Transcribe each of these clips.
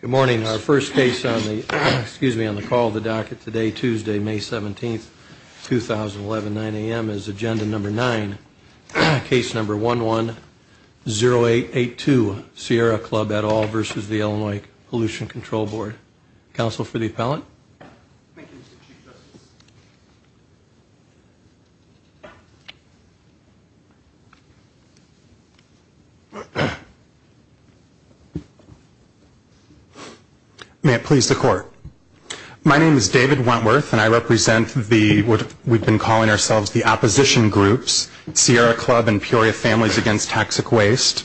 Good morning. Our first case on the, excuse me, on the call of the docket today, Tuesday, May 17th, 2011, 9 a.m. is Agenda Number 9, Case Number 11-0882, Sierra Club et al. versus the Illinois Pollution Control Board. Counsel for the appellant. Thank you, Mr. Chief Justice. May it please the Court. My name is David Wentworth, and I represent the, what we've been calling ourselves, the opposition groups, Sierra Club and Peoria Families Against Toxic Waste.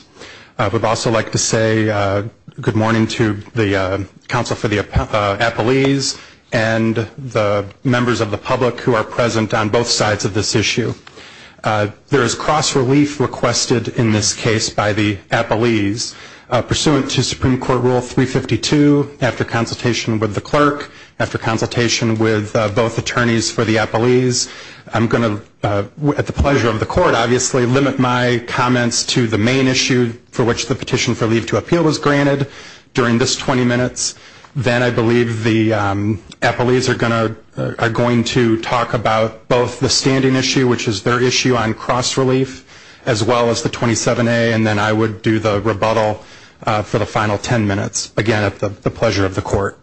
I would also like to say good morning to the counsel for the appellees and the members of the public who are present on both sides of this issue. There is cross-relief requested in this case by the appellees pursuant to Supreme Court Rule 352, after consultation with the clerk, after consultation with both attorneys for the appellees. I'm going to, at the pleasure of the Court, obviously, limit my comments to the main issue for which the petition for leave to appeal was granted during this 20 minutes. Then I believe the appellees are going to talk about both the standing issue, which is their issue on cross-relief, as well as the 27A, and then I would do the rebuttal for the final 10 minutes. Again, at the pleasure of the Court.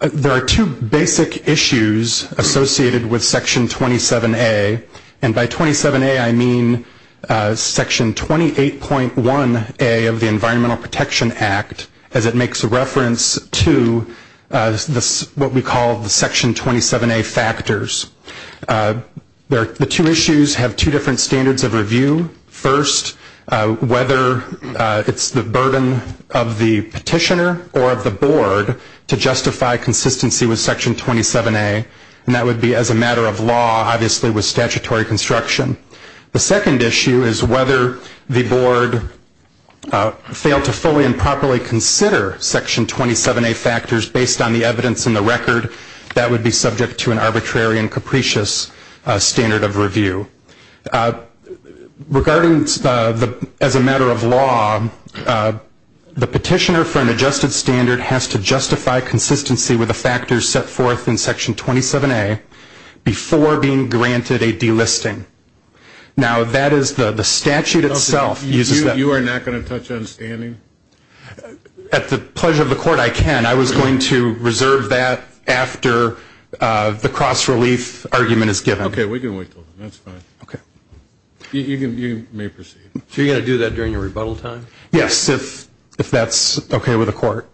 There are two basic issues associated with Section 27A, and by 27A I mean Section 28.1A of the Environmental Protection Act, as it makes reference to what we call the Section 27A factors. The two issues have two different standards of review. First, whether it's the burden of the petitioner or of the Board to justify consistency with Section 27A, and that would be as a matter of law, obviously with statutory construction. The second issue is whether the Board failed to fully and properly consider Section 27A factors based on the evidence in the record. That would be subject to an arbitrary and capricious standard of review. Regarding as a matter of law, the petitioner for an adjusted standard has to justify consistency with the factors set forth in Section 27A before being granted a delisting. Now that is the statute itself. You are not going to touch on standing? At the pleasure of the Court, I can. I was going to reserve that after the cross-relief argument is given. Okay, we can wait until then. That's fine. Okay. You may proceed. So you're going to do that during your rebuttal time? Yes, if that's okay with the Court.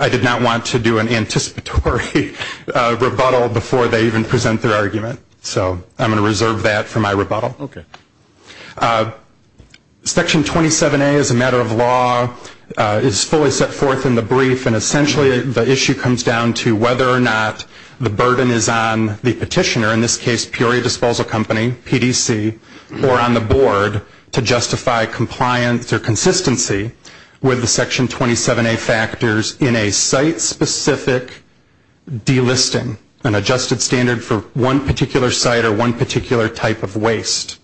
I did not want to do an anticipatory rebuttal before they even present their argument, so I'm going to reserve that for my rebuttal. Okay. Section 27A, as a matter of law, is fully set forth in the brief, and essentially the issue comes down to whether or not the burden is on the petitioner, in this case Peoria Disposal Company, PDC, or on the Board to justify compliance or consistency with the Section 27A factors in a site-specific delisting, an adjusted standard for one particular site or one particular type of waste.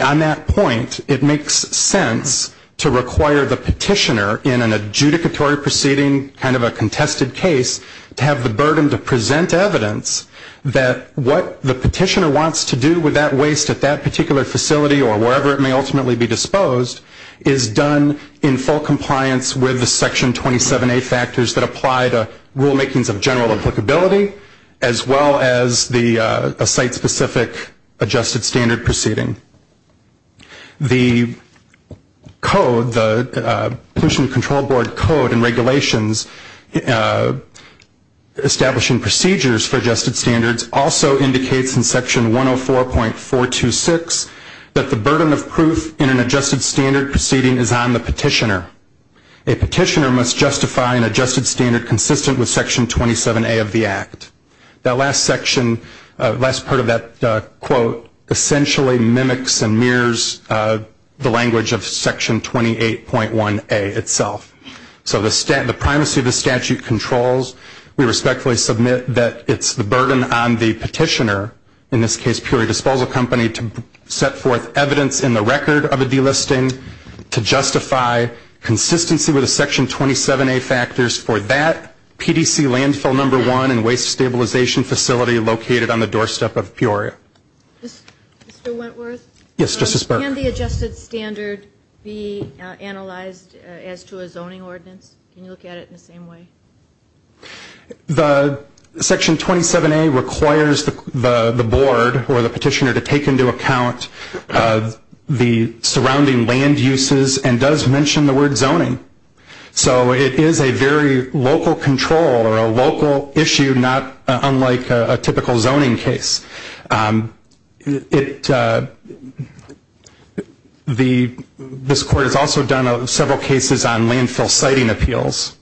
On that point, it makes sense to require the petitioner in an adjudicatory proceeding, kind of a contested case, to have the burden to present evidence that what the petitioner wants to do with that waste at that particular facility or wherever it may ultimately be disposed is done in full compliance with the Section 27A factors that apply to rulemakings of general applicability, as well as a site-specific adjusted standard proceeding. The Code, the Petition Control Board Code and regulations establishing procedures for adjusted standards, also indicates in Section 104.426 that the burden of proof in an adjusted standard proceeding is on the petitioner. A petitioner must justify an adjusted standard consistent with Section 27A of the Act. That last part of that quote essentially mimics and mirrors the language of Section 28.1A itself. So the primacy of the statute controls. We respectfully submit that it's the burden on the petitioner, in this case Peoria Disposal Company, to set forth evidence in the record of a delisting to justify consistency with the Section 27A factors for that PDC landfill number one and waste stabilization facility located on the doorstep of Peoria. Mr. Wentworth? Yes, Justice Burke. Can the adjusted standard be analyzed as to a zoning ordinance? Can you look at it in the same way? Section 27A requires the board or the petitioner to take into account the surrounding land uses and does mention the word zoning. So it is a very local control or a local issue, not unlike a typical zoning case. This court has also done several cases on landfill siting appeals,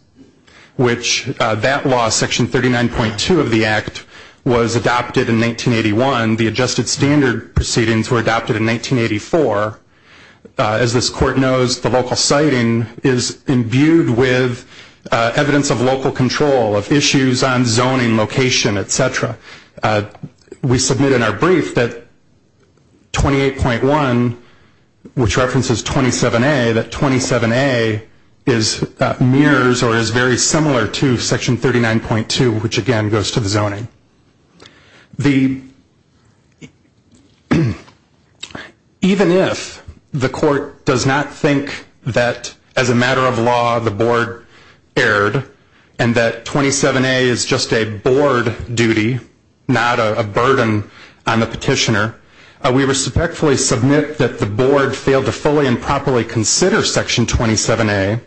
which that law, Section 39.2 of the Act, was adopted in 1981. The adjusted standard proceedings were adopted in 1984. As this court knows, the local siting is imbued with evidence of local control, of issues on zoning location, et cetera. We submit in our brief that 28.1, which references 27A, that 27A mirrors or is very similar to Section 39.2, which again goes to the zoning. Even if the court does not think that as a matter of law the board erred and that 27A is just a board duty, not a burden on the petitioner, we respectfully submit that the board failed to fully and properly consider Section 27A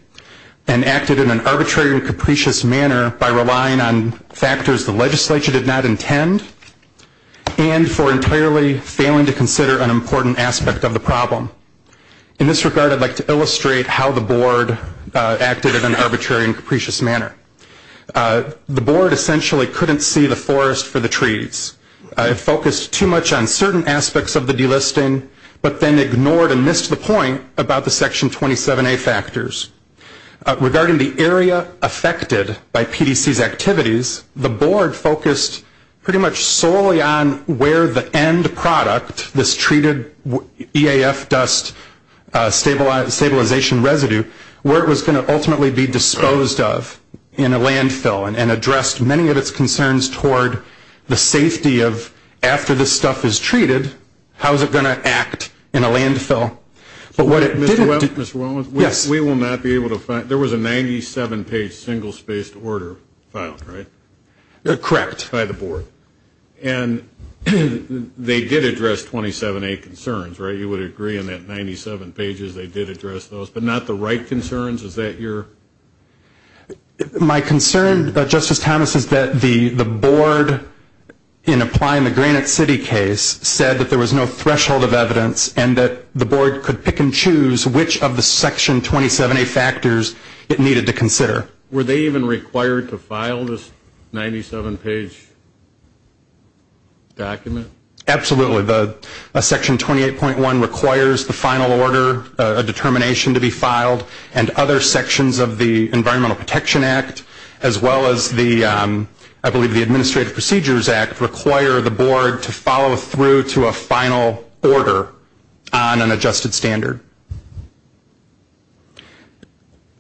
and acted in an arbitrary and capricious manner by relying on factors the legislature did not intend and for entirely failing to consider an important aspect of the problem. In this regard, I'd like to illustrate how the board acted in an arbitrary and capricious manner. The board essentially couldn't see the forest for the trees. It focused too much on certain aspects of the delisting, but then ignored and missed the point about the Section 27A factors. Regarding the area affected by PDC's activities, the board focused pretty much solely on where the end product, this treated EAF dust stabilization residue, where it was going to ultimately be disposed of in a landfill and addressed many of its concerns toward the safety of after this stuff is treated, how is it going to act in a landfill. Mr. Wellman, we will not be able to find, there was a 97-page single-spaced order filed, right? Correct. By the board. And they did address 27A concerns, right? You would agree in that 97 pages they did address those, but not the right concerns? Is that your? My concern, Justice Thomas, is that the board, in applying the Granite City case, said that there was no threshold of evidence and that the board could pick and choose which of the Section 27A factors it needed to consider. Were they even required to file this 97-page document? Absolutely. Section 28.1 requires the final order, a determination to be filed, and other sections of the Environmental Protection Act, as well as the, I believe the Administrative Procedures Act, require the board to follow through to a final order on an adjusted standard.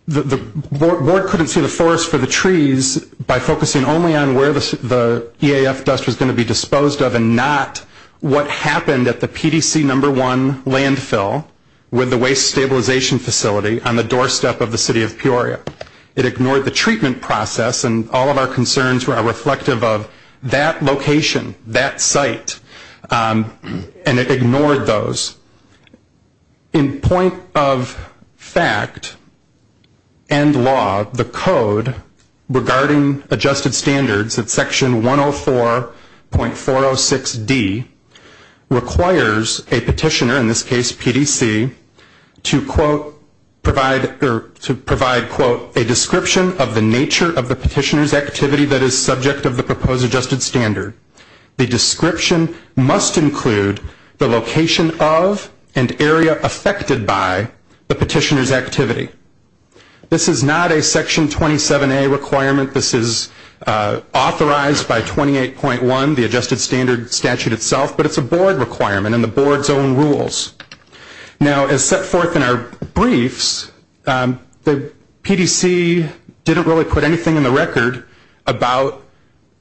The board couldn't see the forest for the trees by focusing only on where the EAF dust was going to be disposed of and not what happened at the PDC No. 1 landfill with the waste stabilization facility on the doorstep of the city of Peoria. It ignored the treatment process, and all of our concerns were reflective of that location, that site, and it ignored those. In point of fact and law, the code regarding adjusted standards at Section 104.406D requires a petitioner, in this case PDC, to provide a description of the nature of the petitioner's activity that is subject of the proposed adjusted standard. The description must include the location of and area affected by the petitioner's activity. This is not a Section 27A requirement. This is authorized by 28.1, the adjusted standard statute itself, but it's a board requirement and the board's own rules. Now, as set forth in our briefs, the PDC didn't really put anything in the record about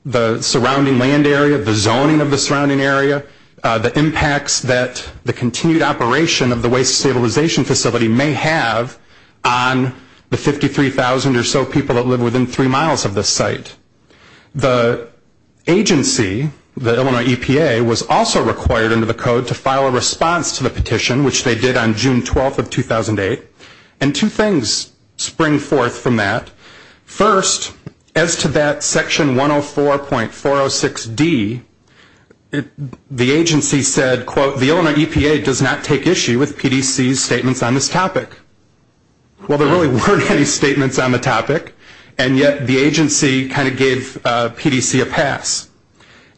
the surrounding land area, the zoning of the surrounding area, the impacts that the continued operation of the waste stabilization facility may have on the 53,000 or so people that live within three miles of this site. The agency, the Illinois EPA, was also required under the code to file a response to the petition, which they did on June 12th of 2008, and two things spring forth from that. First, as to that Section 104.406D, the agency said, quote, the Illinois EPA does not take issue with PDC's statements on this topic. Well, there really weren't any statements on the topic, and yet the agency kind of gave PDC a pass.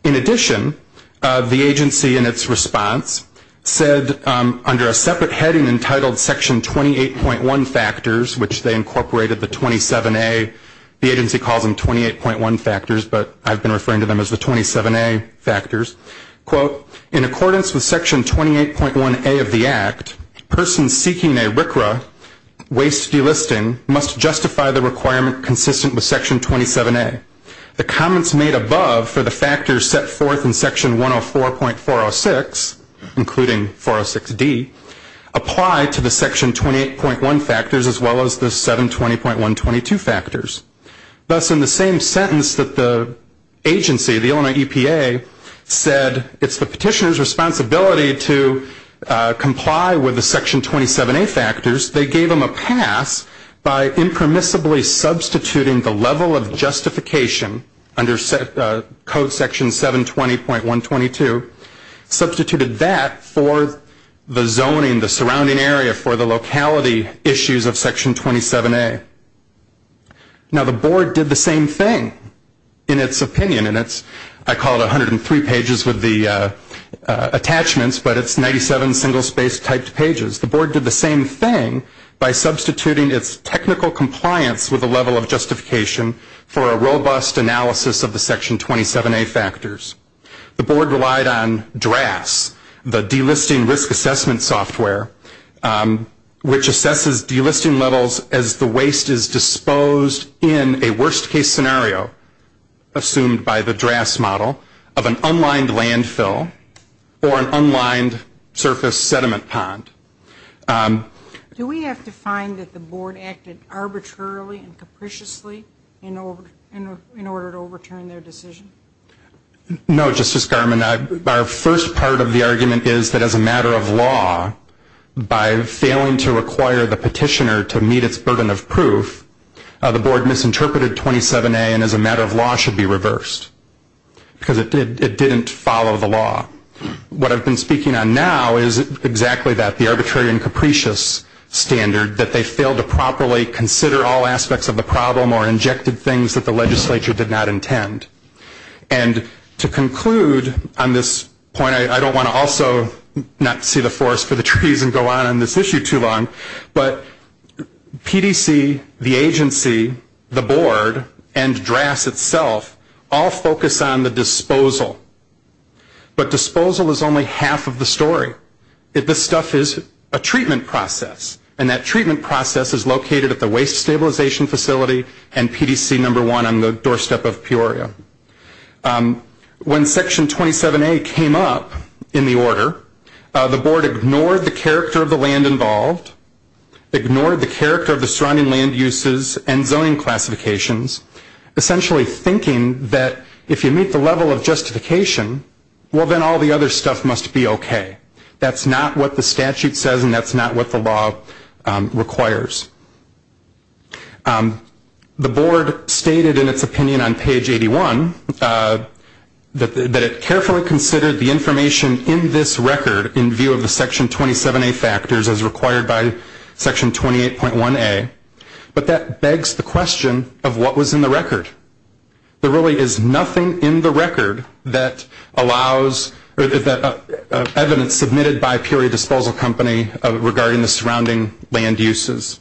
In addition, the agency, in its response, said under a separate heading entitled Section 28.1 factors, which they incorporated the 27A, the agency calls them 28.1 factors, but I've been referring to them as the 27A factors, quote, in accordance with Section 28.1A of the Act, persons seeking a RCRA waste delisting must justify the requirement consistent with Section 27A. The comments made above for the factors set forth in Section 104.406, including 406D, apply to the Section 28.1 factors as well as the 720.122 factors. Thus, in the same sentence that the agency, the Illinois EPA, said, it's the petitioner's responsibility to comply with the Section 27A factors, they gave them a pass by impermissibly substituting the level of justification under Code Section 720.122, substituted that for the zoning, the surrounding area for the locality issues of Section 27A. Now, the Board did the same thing in its opinion, and I call it 103 pages with the attachments, but it's 97 single-space typed pages. The Board did the same thing by substituting its technical compliance with the level of justification for a robust analysis of the Section 27A factors. The Board relied on DRAS, the delisting risk assessment software, which assesses delisting levels as the waste is disposed in a worst-case scenario, assumed by the DRAS model, of an unlined landfill or an unlined surface sediment pond. Do we have to find that the Board acted arbitrarily and capriciously in order to overturn their decision? No, Justice Garmon. Our first part of the argument is that as a matter of law, by failing to require the petitioner to meet its burden of proof, the Board misinterpreted 27A and, as a matter of law, should be reversed, because it didn't follow the law. What I've been speaking on now is exactly that, the arbitrary and capricious standard, that they failed to properly consider all aspects of the problem or injected things that the legislature did not intend. And to conclude on this point, I don't want to also not see the forest for the trees and go on on this issue too long, but PDC, the agency, the Board, and DRAS itself all focus on the disposal. But disposal is only half of the story. This stuff is a treatment process, and that treatment process is located at the Waste Stabilization Facility and PDC No. 1 on the doorstep of Peoria. When Section 27A came up in the order, the Board ignored the character of the land involved, ignored the character of the surrounding land uses and zoning classifications, essentially thinking that if you meet the level of justification, well, then all the other stuff must be okay. That's not what the statute says, and that's not what the law requires. The Board stated in its opinion on page 81 that it carefully considered the information in this record in view of the Section 27A factors as required by Section 28.1A, but that begs the question of what was in the record. There really is nothing in the record that allows evidence submitted by Peoria Disposal Company regarding the surrounding land uses.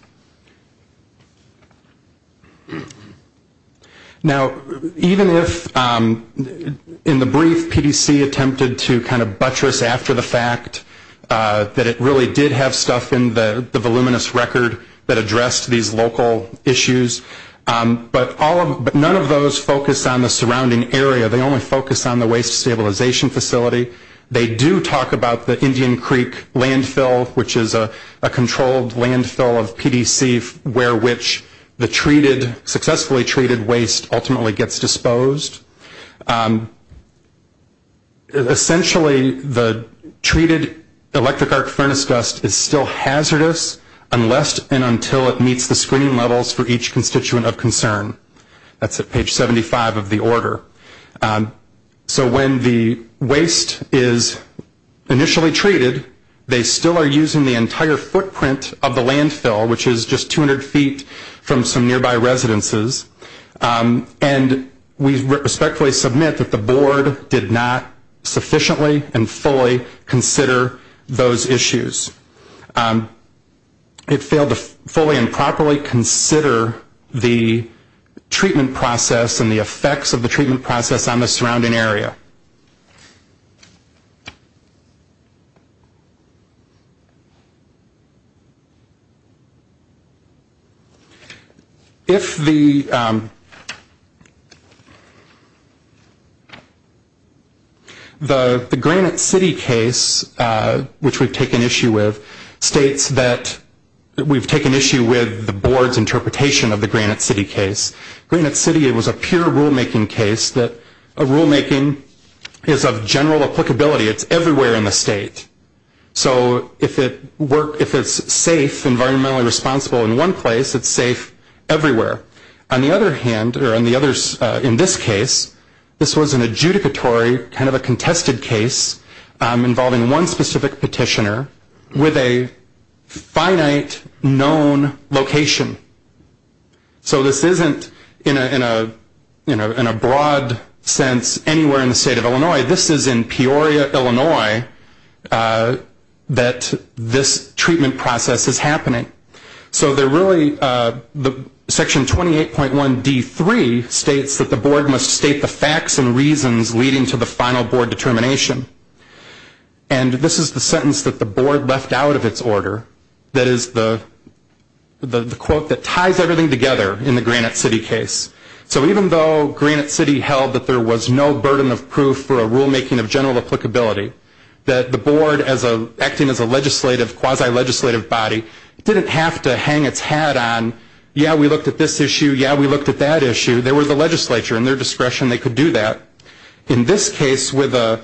Now, even if in the brief PDC attempted to kind of buttress after the fact that it really did have stuff in the voluminous record that addressed these local issues, but none of those focus on the surrounding area. They only focus on the Waste Stabilization Facility. They do talk about the Indian Creek Landfill, which is a controlled landfill of PDC where which the successfully treated waste ultimately gets disposed. Essentially, the treated electric arc furnace dust is still hazardous unless and until it meets the screening levels for each constituent of concern. That's at page 75 of the order. So when the waste is initially treated, they still are using the entire footprint of the landfill, which is just 200 feet from some nearby residences, and we respectfully submit that the board did not sufficiently and fully consider those issues. It failed to fully and properly consider the treatment process and the effects of the treatment process on the surrounding area. If the Granite City case, which we've taken issue with, states that we've taken issue with the board's interpretation of the Granite City case. Granite City was a pure rulemaking case that rulemaking is of general applicability. It's everywhere in the state. So if it's safe, environmentally responsible in one place, it's safe everywhere. On the other hand, or in this case, this was an adjudicatory kind of a contested case involving one specific petitioner with a finite known location. So this isn't in a broad sense anywhere in the state of Illinois. This is in Peoria, Illinois, that this treatment process is happening. So section 28.1D3 states that the board must state the facts and reasons leading to the final board determination. And this is the sentence that the board left out of its order. That is the quote that ties everything together in the Granite City case. So even though Granite City held that there was no burden of proof for a rulemaking of general applicability, that the board acting as a quasi-legislative body didn't have to hang its hat on, yeah, we looked at this issue, yeah, we looked at that issue. They were the legislature and their discretion, they could do that. In this case, with the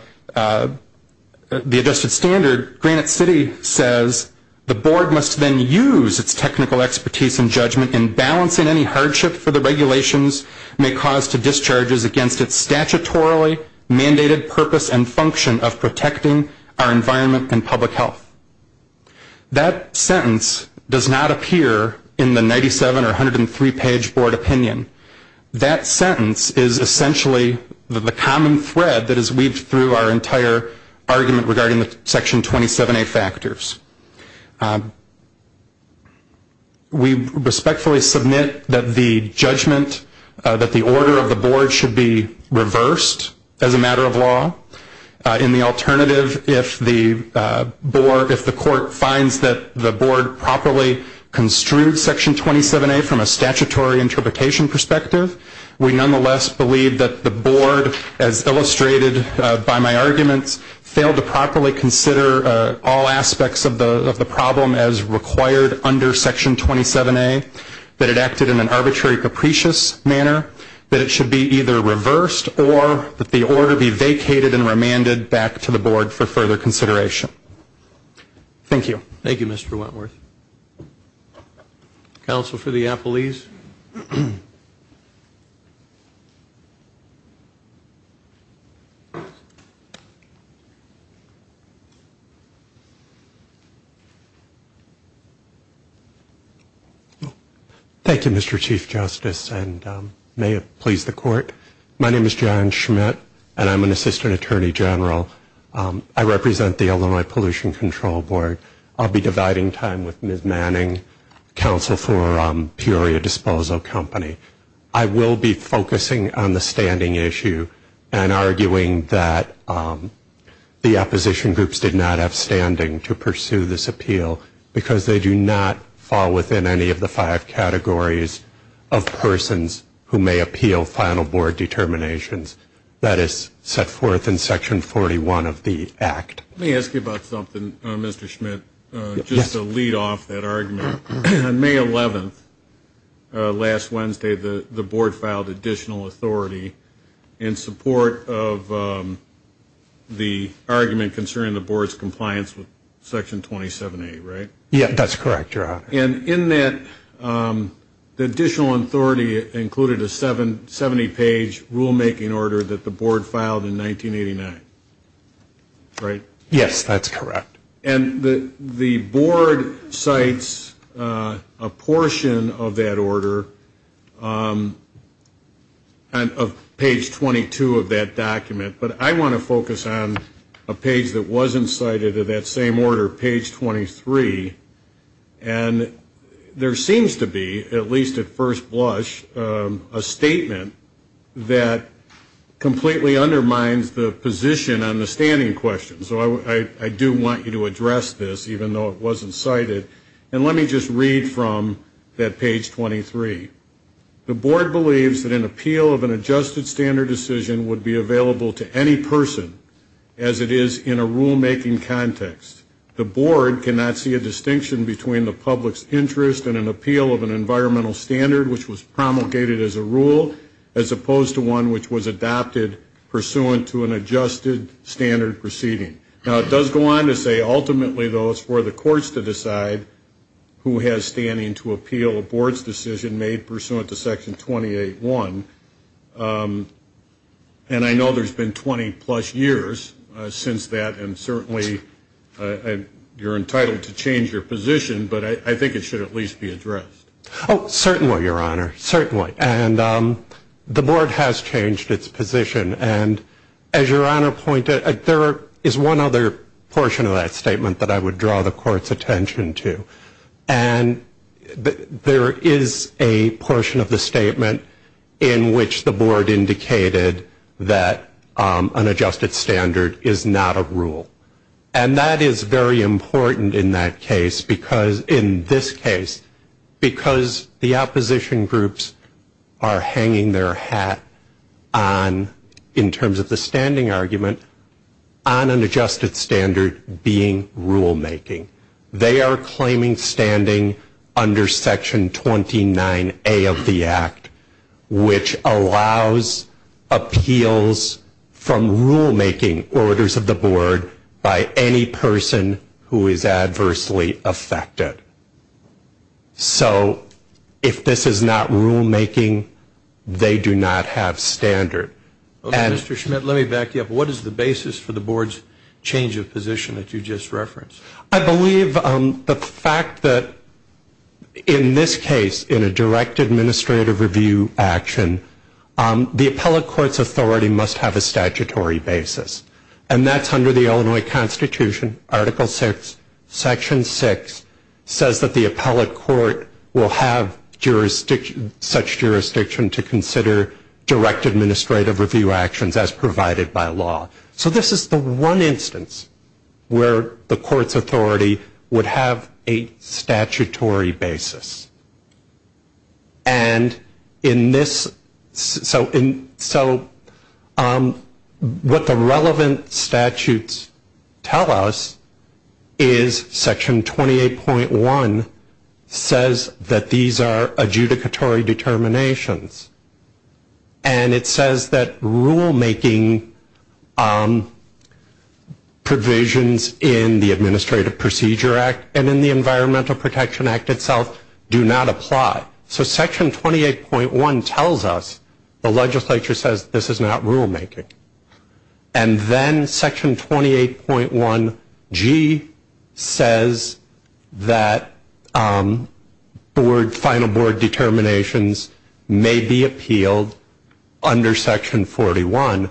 adjusted standard, Granite City says, the board must then use its technical expertise and judgment in balancing any hardship for the regulations may cause to discharges against its statutorily mandated purpose and function of protecting our environment and public health. That sentence does not appear in the 97 or 103 page board opinion. That sentence is essentially the common thread that is weaved through our entire argument regarding the section 27A factors. We respectfully submit that the judgment, that the order of the board should be reversed as a matter of law. In the alternative, if the board, if the court finds that the board properly construed section 27A from a statutory interpretation perspective, we nonetheless believe that the board, as illustrated by my arguments, failed to properly consider all aspects of the problem as required under section 27A, that it acted in an arbitrary capricious manner, that it should be either reversed or that the order be vacated and remanded back to the board for further consideration. Thank you. Thank you, Mr. Wentworth. Counsel for the appellees. Thank you, Mr. Chief Justice, and may it please the court. My name is John Schmidt, and I'm an assistant attorney general. I represent the Illinois Pollution Control Board. I'll be dividing time with Ms. Manning, counsel for Peoria Disposal Company. I will be focusing on the standing issue and arguing that the opposition groups did not have standing to pursue this appeal because they do not fall within any of the five categories of persons who may appeal final board determinations. That is set forth in section 41 of the act. Let me ask you about something, Mr. Schmidt, just to lead off that argument. On May 11th, last Wednesday, the board filed additional authority in support of the argument concerning the board's compliance with section 27A, right? Yes, that's correct, Your Honor. And in that, the additional authority included a 70-page rulemaking order that the board filed in 1989, right? Yes, that's correct. And the board cites a portion of that order on page 22 of that document, but I want to focus on a page that wasn't cited of that same order, page 23. And there seems to be, at least at first blush, a statement that completely undermines the position on the standing question. So I do want you to address this, even though it wasn't cited. And let me just read from that page 23. The board believes that an appeal of an adjusted standard decision would be available to any person, as it is in a rulemaking context. The board cannot see a distinction between the public's interest in an appeal of an environmental standard, which was promulgated as a rule, as opposed to one which was adopted pursuant to an adjusted standard proceeding. Now, it does go on to say, ultimately, though, it's for the courts to decide who has standing to appeal a board's decision made pursuant to section 28.1. And I know there's been 20-plus years since that, and certainly you're entitled to change your position, but I think it should at least be addressed. Oh, certainly, Your Honor, certainly. And the board has changed its position. And as Your Honor pointed, there is one other portion of that statement that I would draw the court's attention to. And there is a portion of the statement in which the board indicated that an adjusted standard is not a rule. And that is very important in that case, because in this case, because the opposition groups are hanging their hat on, in terms of the standing argument, on an adjusted standard being rulemaking. They are claiming standing under section 29A of the Act, which allows appeals from rulemaking orders of the board by any person who is adversely affected. So if this is not rulemaking, they do not have standard. Okay, Mr. Schmidt, let me back you up. What is the basis for the board's change of position that you just referenced? I believe the fact that in this case, in a direct administrative review action, the appellate court's authority must have a statutory basis. And that's under the Illinois Constitution, Article VI, Section VI, says that the appellate court will have such jurisdiction to consider direct administrative review actions as provided by law. So this is the one instance where the court's authority would have a statutory basis. And so what the relevant statutes tell us is Section 28.1 says that these are adjudicatory determinations. And it says that rulemaking provisions in the Administrative Procedure Act and in the Environmental Protection Act itself do not apply. So Section 28.1 tells us the legislature says this is not rulemaking. And then Section 28.1G says that final board determinations may be appealed under Section 41,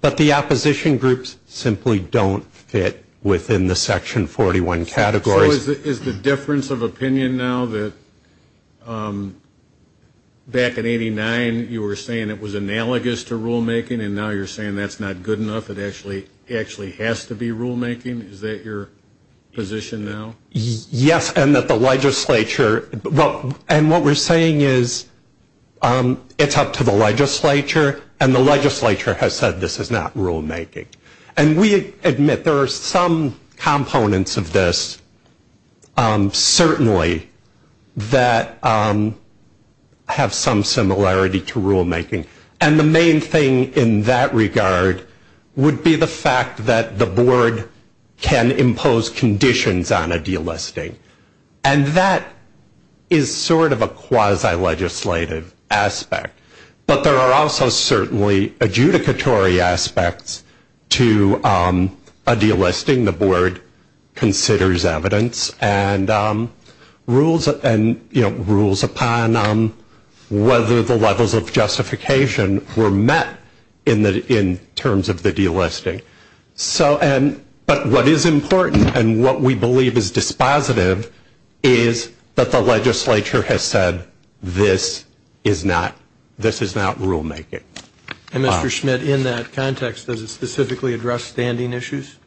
but the opposition groups simply don't fit within the Section 41 categories. So is the difference of opinion now that back in 89 you were saying it was analogous to rulemaking and now you're saying that's not good enough? It actually has to be rulemaking? Is that your position now? Yes, and that the legislature, and what we're saying is it's up to the legislature, and the legislature has said this is not rulemaking. And we admit there are some components of this certainly that have some similarity to rulemaking. And the main thing in that regard would be the fact that the board can impose conditions on a delisting. And that is sort of a quasi-legislative aspect. But there are also certainly adjudicatory aspects to a delisting. The board considers evidence and rules upon whether the levels of justification were met in terms of the delisting. But what is important and what we believe is dispositive is that the legislature has said this is not rulemaking. And Mr. Schmidt, in that context, does it specifically address standing issues?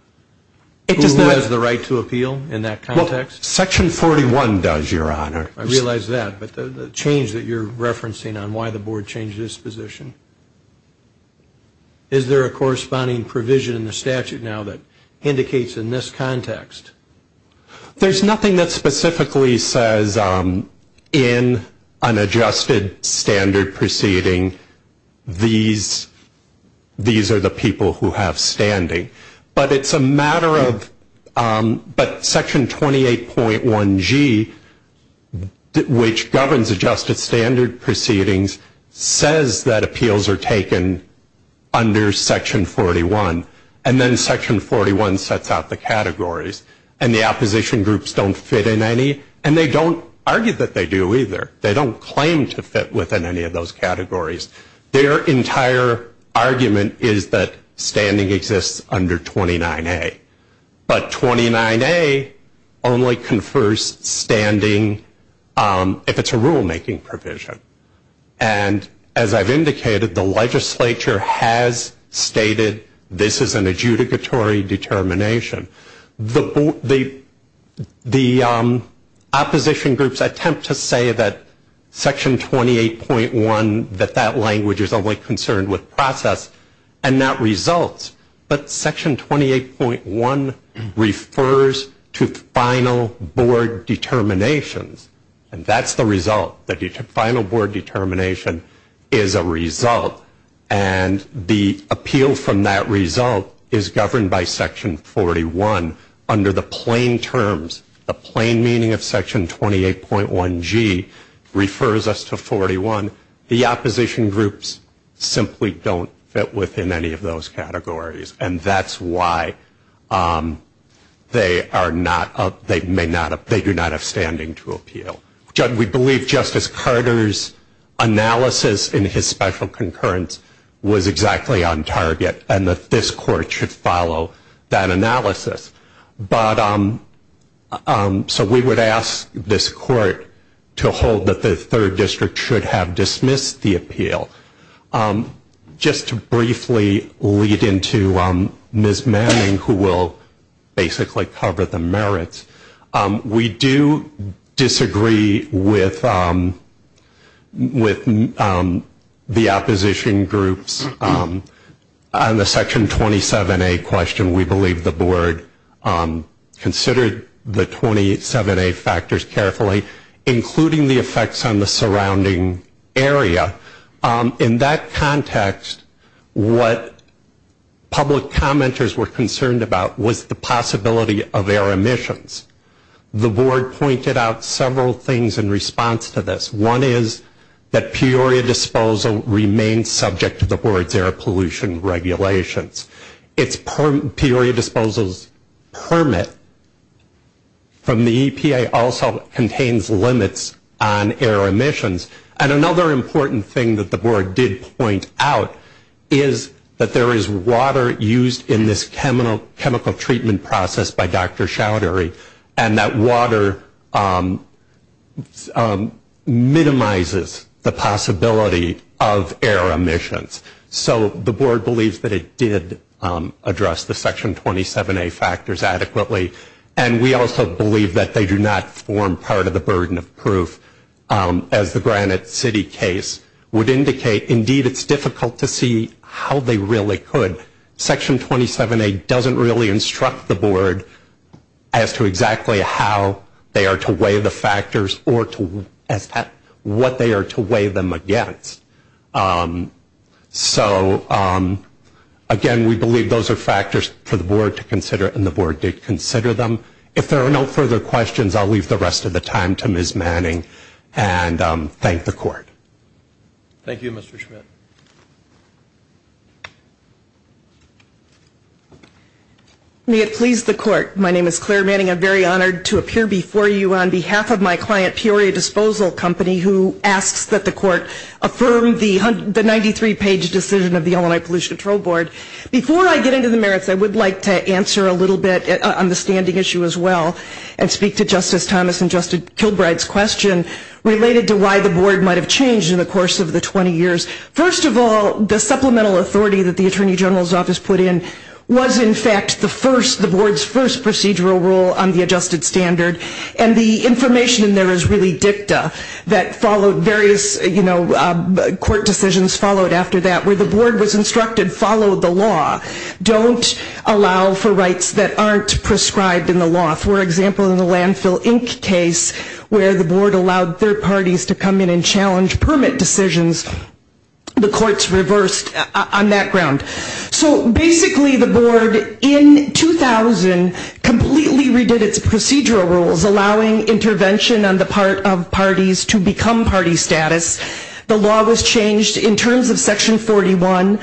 Who has the right to appeal in that context? Well, Section 41 does, Your Honor. I realize that, but the change that you're referencing on why the board changed its position. Is there a corresponding provision in the statute now that indicates in this context? There's nothing that specifically says in an adjusted standard proceeding these are the people who have standing. But it's a matter of, but Section 28.1G, which governs adjusted standard proceedings, says that appeals are taken under Section 41. And then Section 41 sets out the categories. And the opposition groups don't fit in any. And they don't argue that they do either. They don't claim to fit within any of those categories. Their entire argument is that standing exists under 29A. But 29A only confers standing if it's a rulemaking provision. And as I've indicated, the legislature has stated this is an adjudicatory determination. The opposition groups attempt to say that Section 28.1, that that language is only concerned with process and not results. But Section 28.1 refers to final board determinations. And that's the result. And the appeal from that result is governed by Section 41. Under the plain terms, the plain meaning of Section 28.1G refers us to 41. The opposition groups simply don't fit within any of those categories. And that's why they are not, they may not, they do not have standing to appeal. We believe Justice Carter's analysis in his special concurrence was exactly on target, and that this Court should follow that analysis. So we would ask this Court to hold that the Third District should have dismissed the appeal. Just to briefly lead into Ms. Manning, who will basically cover the merits, we do disagree with the opposition groups on the Section 27A question. We believe the Board considered the 27A factors carefully, including the effects on the surrounding area. In that context, what public commenters were concerned about was the possibility of air emissions. The Board pointed out several things in response to this. One is that Peoria disposal remains subject to the Board's air pollution regulations. Peoria disposal's permit from the EPA also contains limits on air emissions. And another important thing that the Board did point out is that there is water used in this chemical treatment process by Dr. Chowdhury, and that water minimizes the possibility of air emissions. So the Board believes that it did address the Section 27A factors adequately, and we also believe that they do not form part of the burden of proof, as the Granite City case would indicate. Indeed, it's difficult to see how they really could. Section 27A doesn't really instruct the Board as to exactly how they are to weigh the factors or what they are to weigh them against. So, again, we believe those are factors for the Board to consider, and the Board did consider them. If there are no further questions, I'll leave the rest of the time to Ms. Manning and thank the Court. Thank you, Mr. Schmidt. May it please the Court. My name is Claire Manning. I'm very honored to appear before you on behalf of my client, Peoria Disposal Company, who asks that the Court affirm the 93-page decision of the Illinois Pollution Control Board. Before I get into the merits, I would like to answer a little bit on the standing issue as well and speak to Justice Thomas and Justice Kilbride's question related to why the Board might have changed in the course of the 20 years. First of all, the supplemental authority that the Attorney General's Office put in was, in fact, the Board's first procedural rule on the adjusted standard. And the information in there is really dicta that followed various, you know, court decisions followed after that where the Board was instructed, follow the law. Don't allow for rights that aren't prescribed in the law. For example, in the Landfill, Inc. case where the Board allowed third parties to come in and challenge permit decisions, the Court's reversed on that ground. So basically, the Board, in 2000, completely redid its procedural rules, allowing intervention on the part of parties to become party status. The law was changed in terms of Section 41.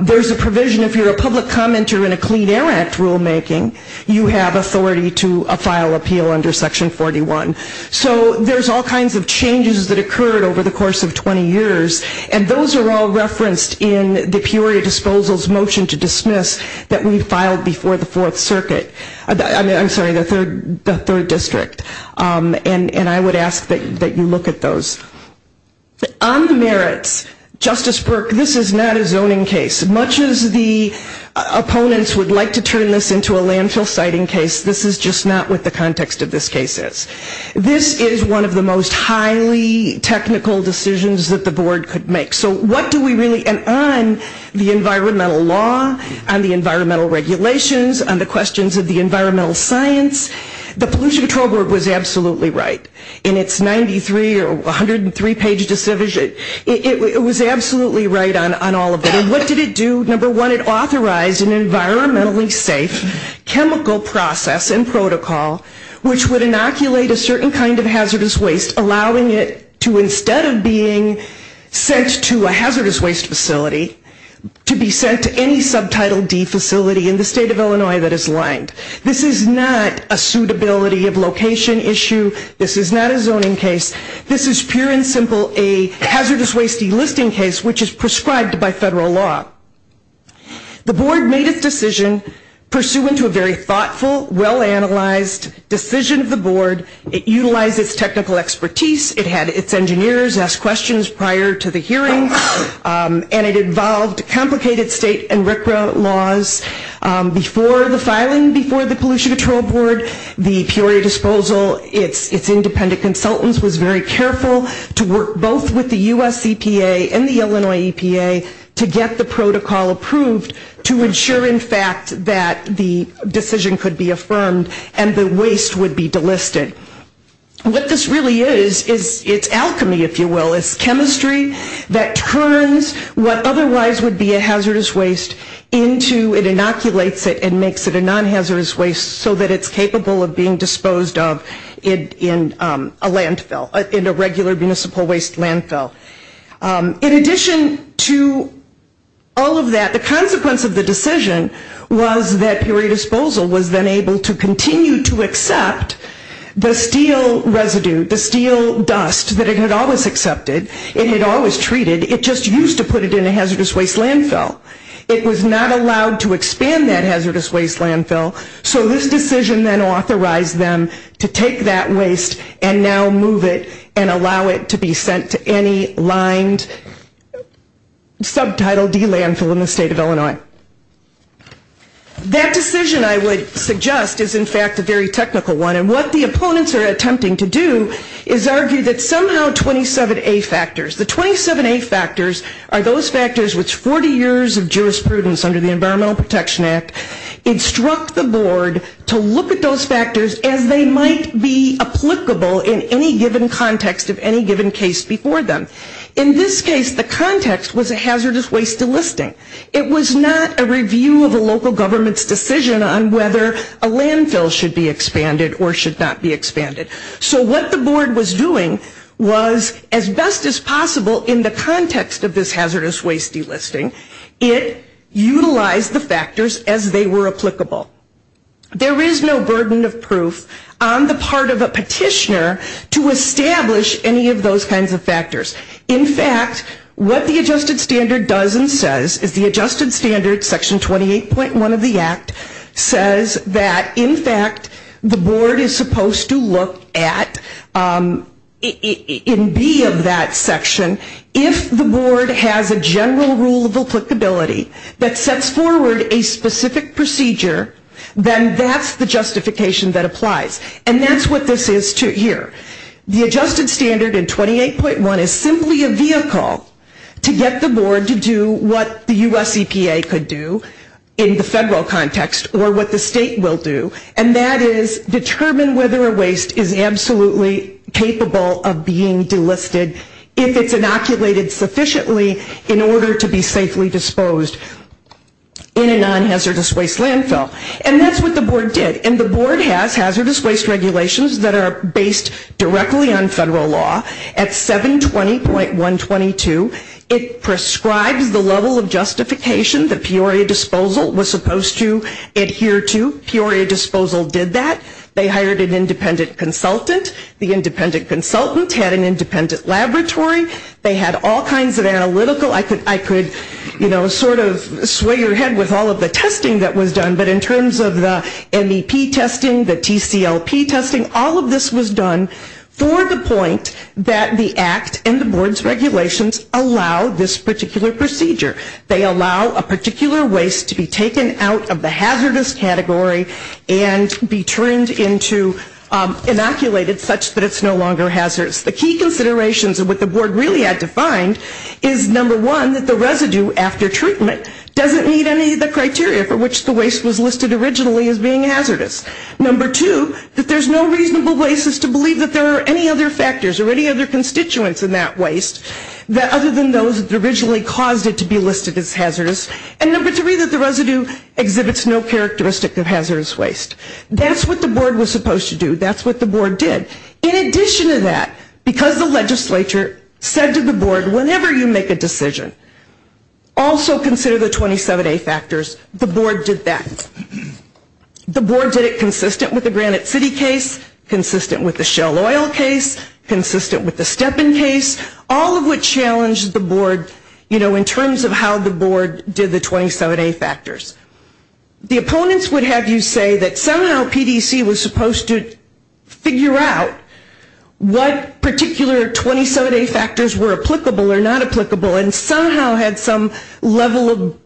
There's a provision if you're a public commenter in a Clean Air Act rulemaking, you have authority to a file appeal under Section 41. So there's all kinds of changes that occurred over the course of 20 years, and those are all referenced in the Peoria Disposal's motion to dismiss that we filed before the Fourth Circuit. I'm sorry, the Third District. And I would ask that you look at those. On the merits, Justice Burke, this is not a zoning case. Much as the opponents would like to turn this into a landfill siting case, this is just not what the context of this case is. This is one of the most highly technical decisions that the Board could make. So what do we really, and on the environmental law, on the environmental regulations, on the questions of the environmental science, the Pollution Control Board was absolutely right. In its 93 or 103-page decision, it was absolutely right on all of it. And what did it do? Number one, it authorized an environmentally safe chemical process and protocol which would inoculate a certain kind of hazardous waste, allowing it to, instead of being sent to a hazardous waste facility, to be sent to any subtitle D facility in the state of Illinois that is lined. This is not a suitability of location issue. This is not a zoning case. This is pure and simple a hazardous waste delisting case, which is prescribed by federal law. The Board made its decision pursuant to a very thoughtful, well-analyzed decision of the Board. It utilized its technical expertise. It had its engineers ask questions prior to the hearing, and it involved complicated state and RCRA laws. Before the filing, before the Pollution Control Board, the Peoria Disposal, its independent consultants was very careful to work both with the U.S. EPA and the Illinois EPA to get the protocol approved to ensure, in fact, that the decision could be affirmed and the waste would be delisted. What this really is is it's alchemy, if you will. It's chemistry that turns what otherwise would be a hazardous waste into, it inoculates it and makes it a non-hazardous waste so that it's capable of being disposed of in a landfill, in a regular municipal waste landfill. In addition to all of that, the consequence of the decision was that Peoria Disposal was then able to continue to accept the steel residue, the steel dust that it had always accepted, it had always treated, it just used to put it in a hazardous waste landfill. It was not allowed to expand that hazardous waste landfill, so this decision then authorized them to take that waste and now move it and allow it to be sent to any lined subtitle D landfill in the state of Illinois. That decision, I would suggest, is in fact a very technical one and what the opponents are attempting to do is argue that somehow 27A factors, the 27A factors are those factors which 40 years of jurisprudence under the Environmental Protection Act instruct the board to look at those factors as they might be applicable in any given context of any given case before them. In this case, the context was a hazardous waste delisting. It was not a review of a local government's decision on whether a landfill should be expanded or should not be expanded. So what the board was doing was as best as possible in the context of this hazardous waste delisting, it utilized the factors as they were applicable. There is no burden of proof on the part of a petitioner to establish any of those kinds of factors. In fact, what the adjusted standard does and says is the adjusted standard, Section 28.1 of the Act, says that in fact the board is supposed to look at in B of that section if the board has a general rule of applicability that sets forward a specific procedure, then that's the justification that applies. And that's what this is here. The adjusted standard in 28.1 is simply a vehicle to get the board to do what the U.S. EPA could do in the federal context or what the state will do and that is determine whether a waste is absolutely capable of being delisted if it's inoculated sufficiently in order to be safely disposed in a non-hazardous waste landfill. And that's what the board did. And the board has hazardous waste regulations that are based directly on federal law. At 720.122, it prescribes the level of justification that Peoria Disposal was supposed to adhere to. Peoria Disposal did that. They hired an independent consultant. The independent consultant had an independent laboratory. They had all kinds of analytical. I could, you know, sort of sway your head with all of the testing that was done, but in terms of the MEP testing, the TCLP testing, all of this was done for the point that the Act and the board's regulations allow this particular procedure. They allow a particular waste to be taken out of the hazardous category and be turned into inoculated such that it's no longer hazardous. The key considerations of what the board really had to find is, number one, that the residue after treatment doesn't meet any of the criteria for which the waste was listed originally as being hazardous. Number two, that there's no reasonable basis to believe that there are any other factors or any other constituents in that waste other than those that originally caused it to be listed as hazardous. And number three, that the residue exhibits no characteristic of hazardous waste. That's what the board was supposed to do. That's what the board did. In addition to that, because the legislature said to the board, whenever you make a decision, also consider the 27A factors, the board did that. The board did it consistent with the Granite City case, consistent with the Shell Oil case, consistent with the Stepin case, all of which challenged the board, you know, in terms of how the board did the 27A factors. The opponents would have you say that somehow PDC was supposed to figure out what particular 27A factors were applicable or not applicable and somehow had some level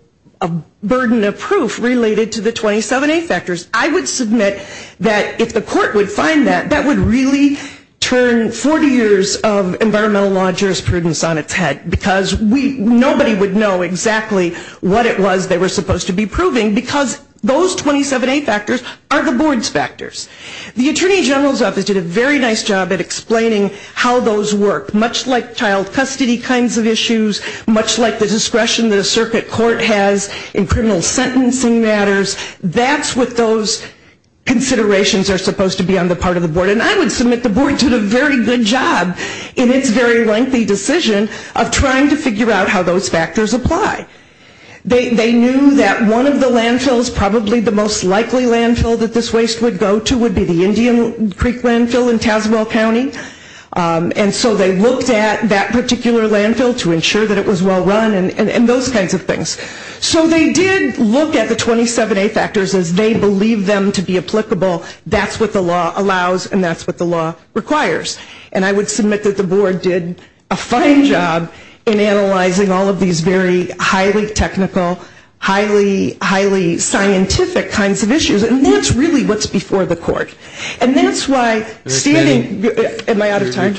of burden of proof related to the 27A factors. I would submit that if the court would find that, that would really turn 40 years of environmental law jurisprudence on its head because nobody would know exactly what it was they were supposed to be proving because those 27A factors are the board's factors. The Attorney General's Office did a very nice job at explaining how those work, much like child custody kinds of issues, much like the discretion that a circuit court has in criminal sentencing matters. That's what those considerations are supposed to be on the part of the board and I would submit the board did a very good job in its very lengthy decision of trying to figure out how those factors apply. They knew that one of the landfills, probably the most likely landfill that this waste would go to, would be the Indian Creek landfill in Tazewell County and so they looked at that particular landfill to ensure that it was well run and those kinds of things. So they did look at the 27A factors as they believed them to be applicable. That's what the law allows and that's what the law requires and I would submit that the board did a fine job in analyzing all of these very highly technical, highly scientific kinds of issues and that's really what's before the court. And that's why standing... Am I out of time?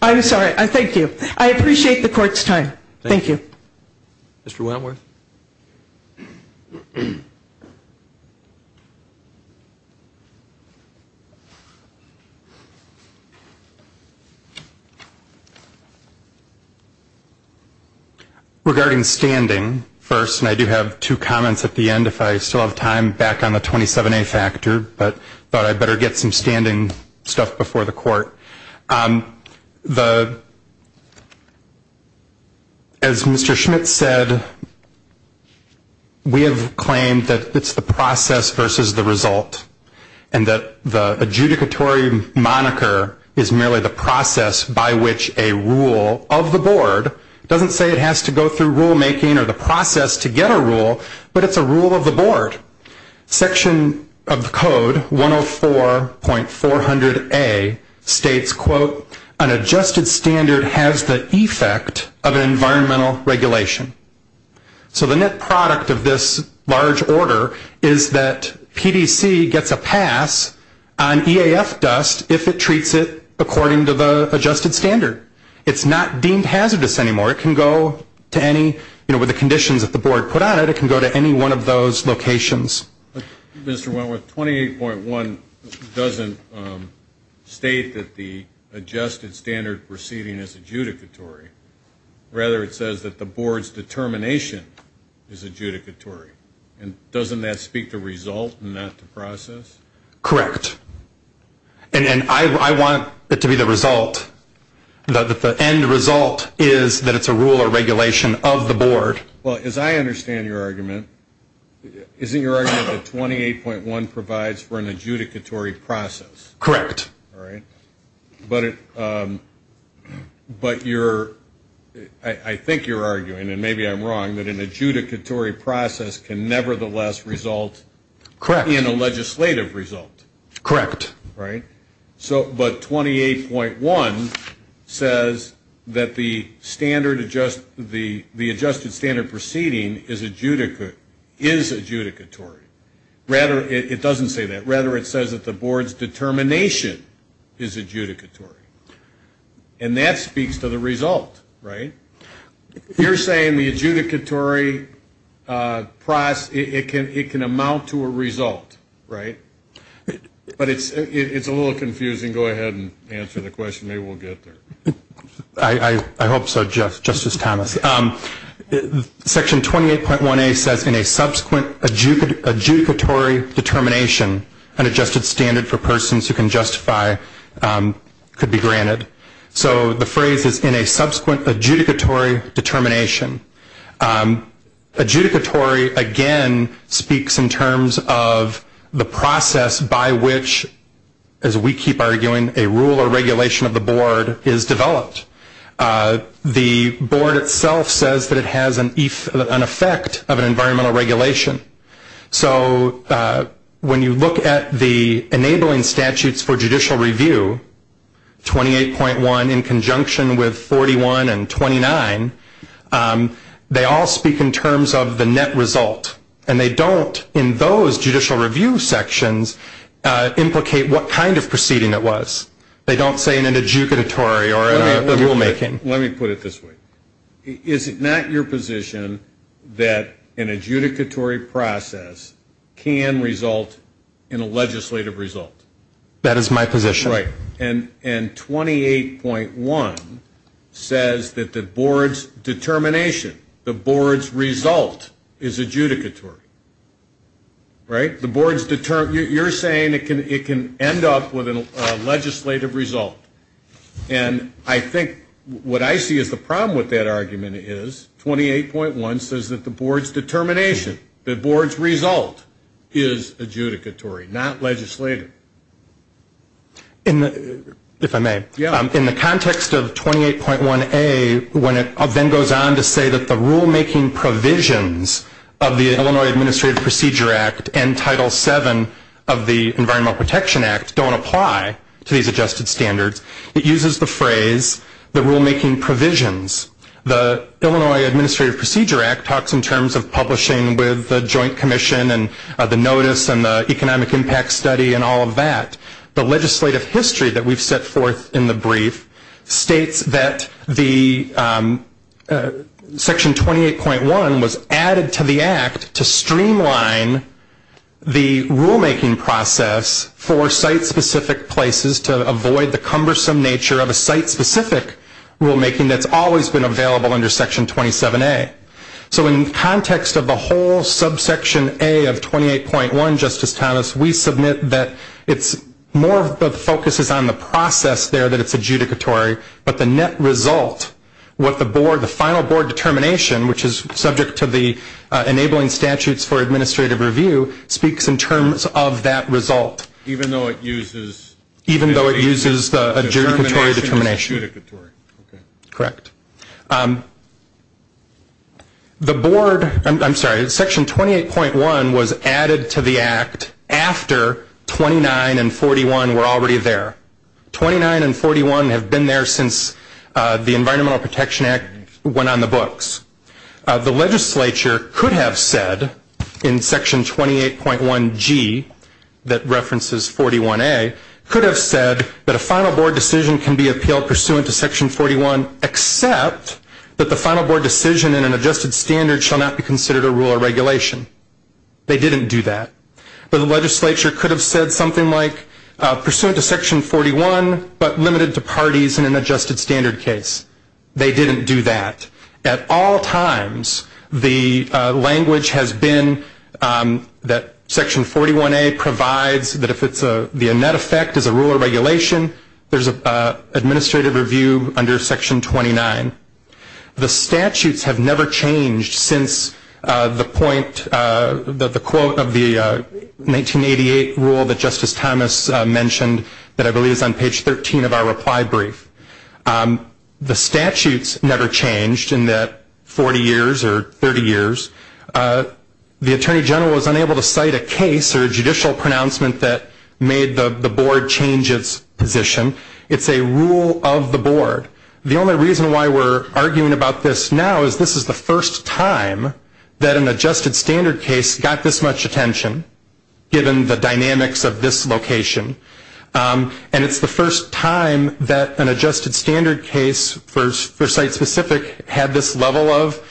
I'm sorry. Thank you. I appreciate the court's time. Thank you. Mr. Wentworth. Regarding standing first, and I do have two comments at the end if I still have time, back on the 27A factor, but I thought I'd better get some standing stuff before the court. As Mr. Schmidt said, we have claimed that it's the process versus the result and that the adjudicatory moniker is merely the process by which a rule of the board, it doesn't say it has to go through rulemaking or the process to get a rule, but it's a rule of the board. Section of the code 104.400A states, quote, an adjusted standard has the effect of an environmental regulation. So the net product of this large order is that PDC gets a pass on EAF dust if it treats it according to the adjusted standard. It's not deemed hazardous anymore. It can go to any... With the conditions that the board put on it, it can go to any one of those locations. Mr. Wentworth, 28.1 doesn't state that the adjusted standard proceeding is adjudicatory. Rather, it says that the board's determination is adjudicatory. And doesn't that speak to result and not to process? Correct. And I want it to be the result. The end result is that it's a rule or regulation of the board. Well, as I understand your argument, isn't your argument that 28.1 provides for an adjudicatory process? Correct. All right. But I think you're arguing, and maybe I'm wrong, that an adjudicatory process can nevertheless result in a legislative result. Correct. So, but 28.1 says that the adjusted standard proceeding is adjudicatory. Rather, it doesn't say that. Rather, it says that the board's determination is adjudicatory. And that speaks to the result, right? You're saying the adjudicatory process, it can amount to a result, right? But it's a little confusing. Go ahead and answer the question. Maybe we'll get there. I hope so, Justice Thomas. Section 28.1A says in a subsequent adjudicatory determination, an adjusted standard for persons who can justify could be granted. So the phrase is in a subsequent adjudicatory determination. Adjudicatory, again, speaks in terms of the process by which, as we keep arguing, a rule or regulation of the board is developed. The board itself says that it has an effect of an environmental regulation. So when you look at the enabling statutes for judicial review, 28.1, in conjunction with 41 and 29, they all speak in terms of the net result. And they don't, in those judicial review sections, implicate what kind of proceeding it was. They don't say an adjudicatory or a rulemaking. Let me put it this way. Is it not your position that an adjudicatory process can result in a legislative result? That is my position. Right. And 28.1 says that the board's determination, the board's result is adjudicatory. Right? You're saying it can end up with a legislative result. And I think what I see as the problem with that argument is 28.1 says that the board's determination, the board's result is adjudicatory, not legislative. If I may, in the context of 28.1A, when it then goes on to say that the rulemaking provisions of the Illinois Administrative Procedure Act and Title VII of the Environmental Protection Act don't apply to these adjusted standards, it uses the phrase, the rulemaking provisions. The Illinois Administrative Procedure Act talks in terms of publishing with the Joint Commission and the notice and the economic impact study and all of that. The legislative history that we've set forth in the brief states that Section 28.1 was added to the Act to streamline the rulemaking process for site-specific places to avoid the cumbersome nature of a site-specific rulemaking that's always been available under Section 27A. So in context of the whole subsection A of 28.1, Justice Thomas, we submit that it's more of the focus is on the process there that it's adjudicatory, but the net result, what the board, the final board determination, which is subject to the enabling statutes for administrative review, speaks in terms of that result. Even though it uses the adjudicatory determination. Correct. The board, I'm sorry, Section 28.1 was added to the Act after 29 and 41 were already there. 29 and 41 have been there since the Environmental Protection Act went on the books. The legislature could have said in Section 28.1G that references 41A, could have said that a final board decision can be appealed pursuant to Section 41, except that the final board decision in an adjusted standard shall not be considered a rule or regulation. They didn't do that. But the legislature could have said something like, pursuant to Section 41, but limited to parties in an adjusted standard case. They didn't do that. At all times, the language has been that Section 41A provides that if the net effect is a rule or regulation, there's an administrative review under Section 29. The statutes have never changed since the quote of the 1988 rule that Justice Thomas mentioned that I believe is on page 13 of our reply brief. The statutes never changed in that 40 years or 30 years. The Attorney General was unable to cite a case or a judicial pronouncement that made the board change its position. It's a rule of the board. The only reason why we're arguing about this now is this is the first time that an adjusted standard case got this much attention, given the dynamics of this location. And it's the first time that an adjusted standard case, for site specific, had this level of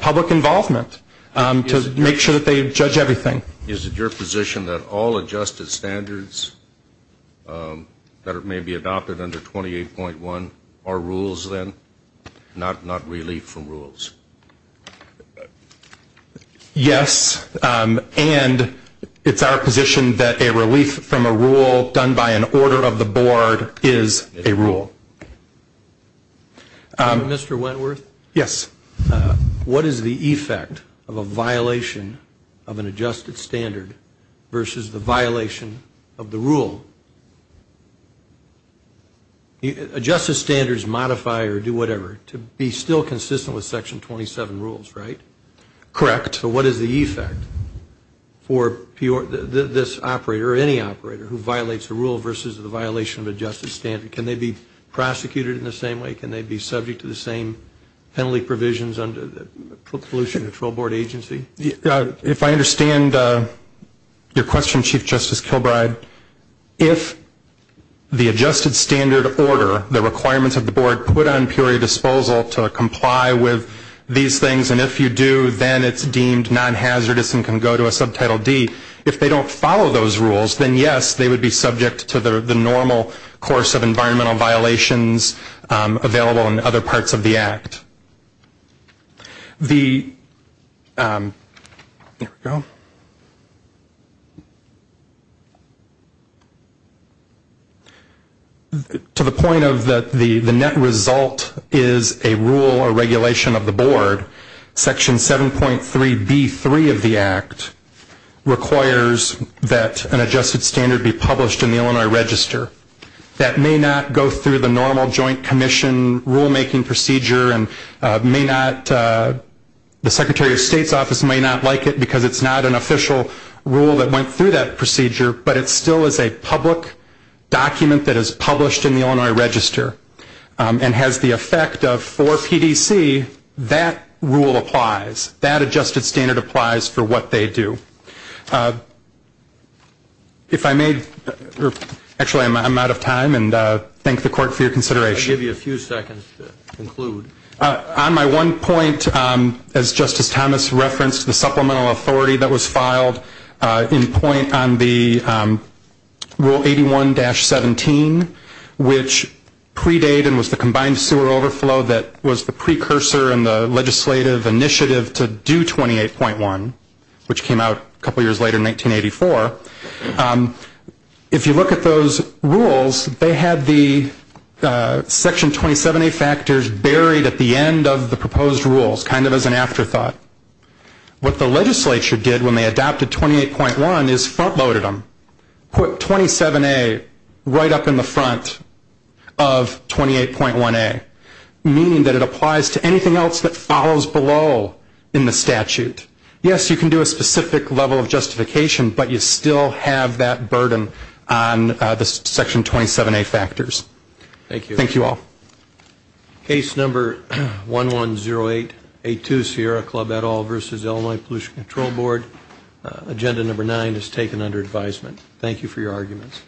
public involvement to make sure that they judge everything. Is it your position that all adjusted standards that may be adopted under 28.1 are rules then, not relief from rules? Yes, and it's our position that a relief from a rule done by an order of the board is a rule. Mr. Wentworth? Yes. What is the effect of a violation of an adjusted standard versus the violation of the rule? Adjusted standards modify or do whatever to be still consistent with Section 27 rules, right? Correct. So what is the effect for this operator or any operator who violates a rule versus the violation of adjusted standard? Can they be prosecuted in the same way? Can they be subject to the same penalty provisions under the pollution control board agency? If I understand your question, Chief Justice Kilbride, if the adjusted standard order, the requirements of the board, put on purely disposal to comply with these things, and if you do, then it's deemed non-hazardous and can go to a Subtitle D, if they don't follow those rules, then yes, they would be subject to the normal course of environmental violations available in other parts of the Act. There we go. To the point of the net result is a rule or regulation of the board, Section 7.3b3 of the Act requires that an adjusted standard be published in the Illinois Register. That may not go through the normal joint commission rulemaking procedure and the Secretary of State's office may not like it because it's not an official rule that went through that procedure, but it still is a public document that is published in the Illinois Register and has the effect of, for PDC, that rule applies. That adjusted standard applies for what they do. If I may, actually I'm out of time, and thank the court for your consideration. I'll give you a few seconds to conclude. On my one point, as Justice Thomas referenced, the supplemental authority that was filed in point on the Rule 81-17, which predate and was the combined sewer overflow that was the precursor in the legislative initiative to do 28.1, which came out a couple years later in 1984. If you look at those rules, they had the Section 27a factors buried at the end of the proposed rules, kind of as an afterthought. What the legislature did when they adopted 28.1 is front loaded them, put 27a right up in the front of 28.1a, meaning that it applies to anything else that follows below in the statute. Yes, you can do a specific level of justification, but you still have that burden on the Section 27a factors. Thank you all. Case number 1108A2, Sierra Club et al. v. Illinois Pollution Control Board. Agenda number nine is taken under advisement. Thank you for your arguments.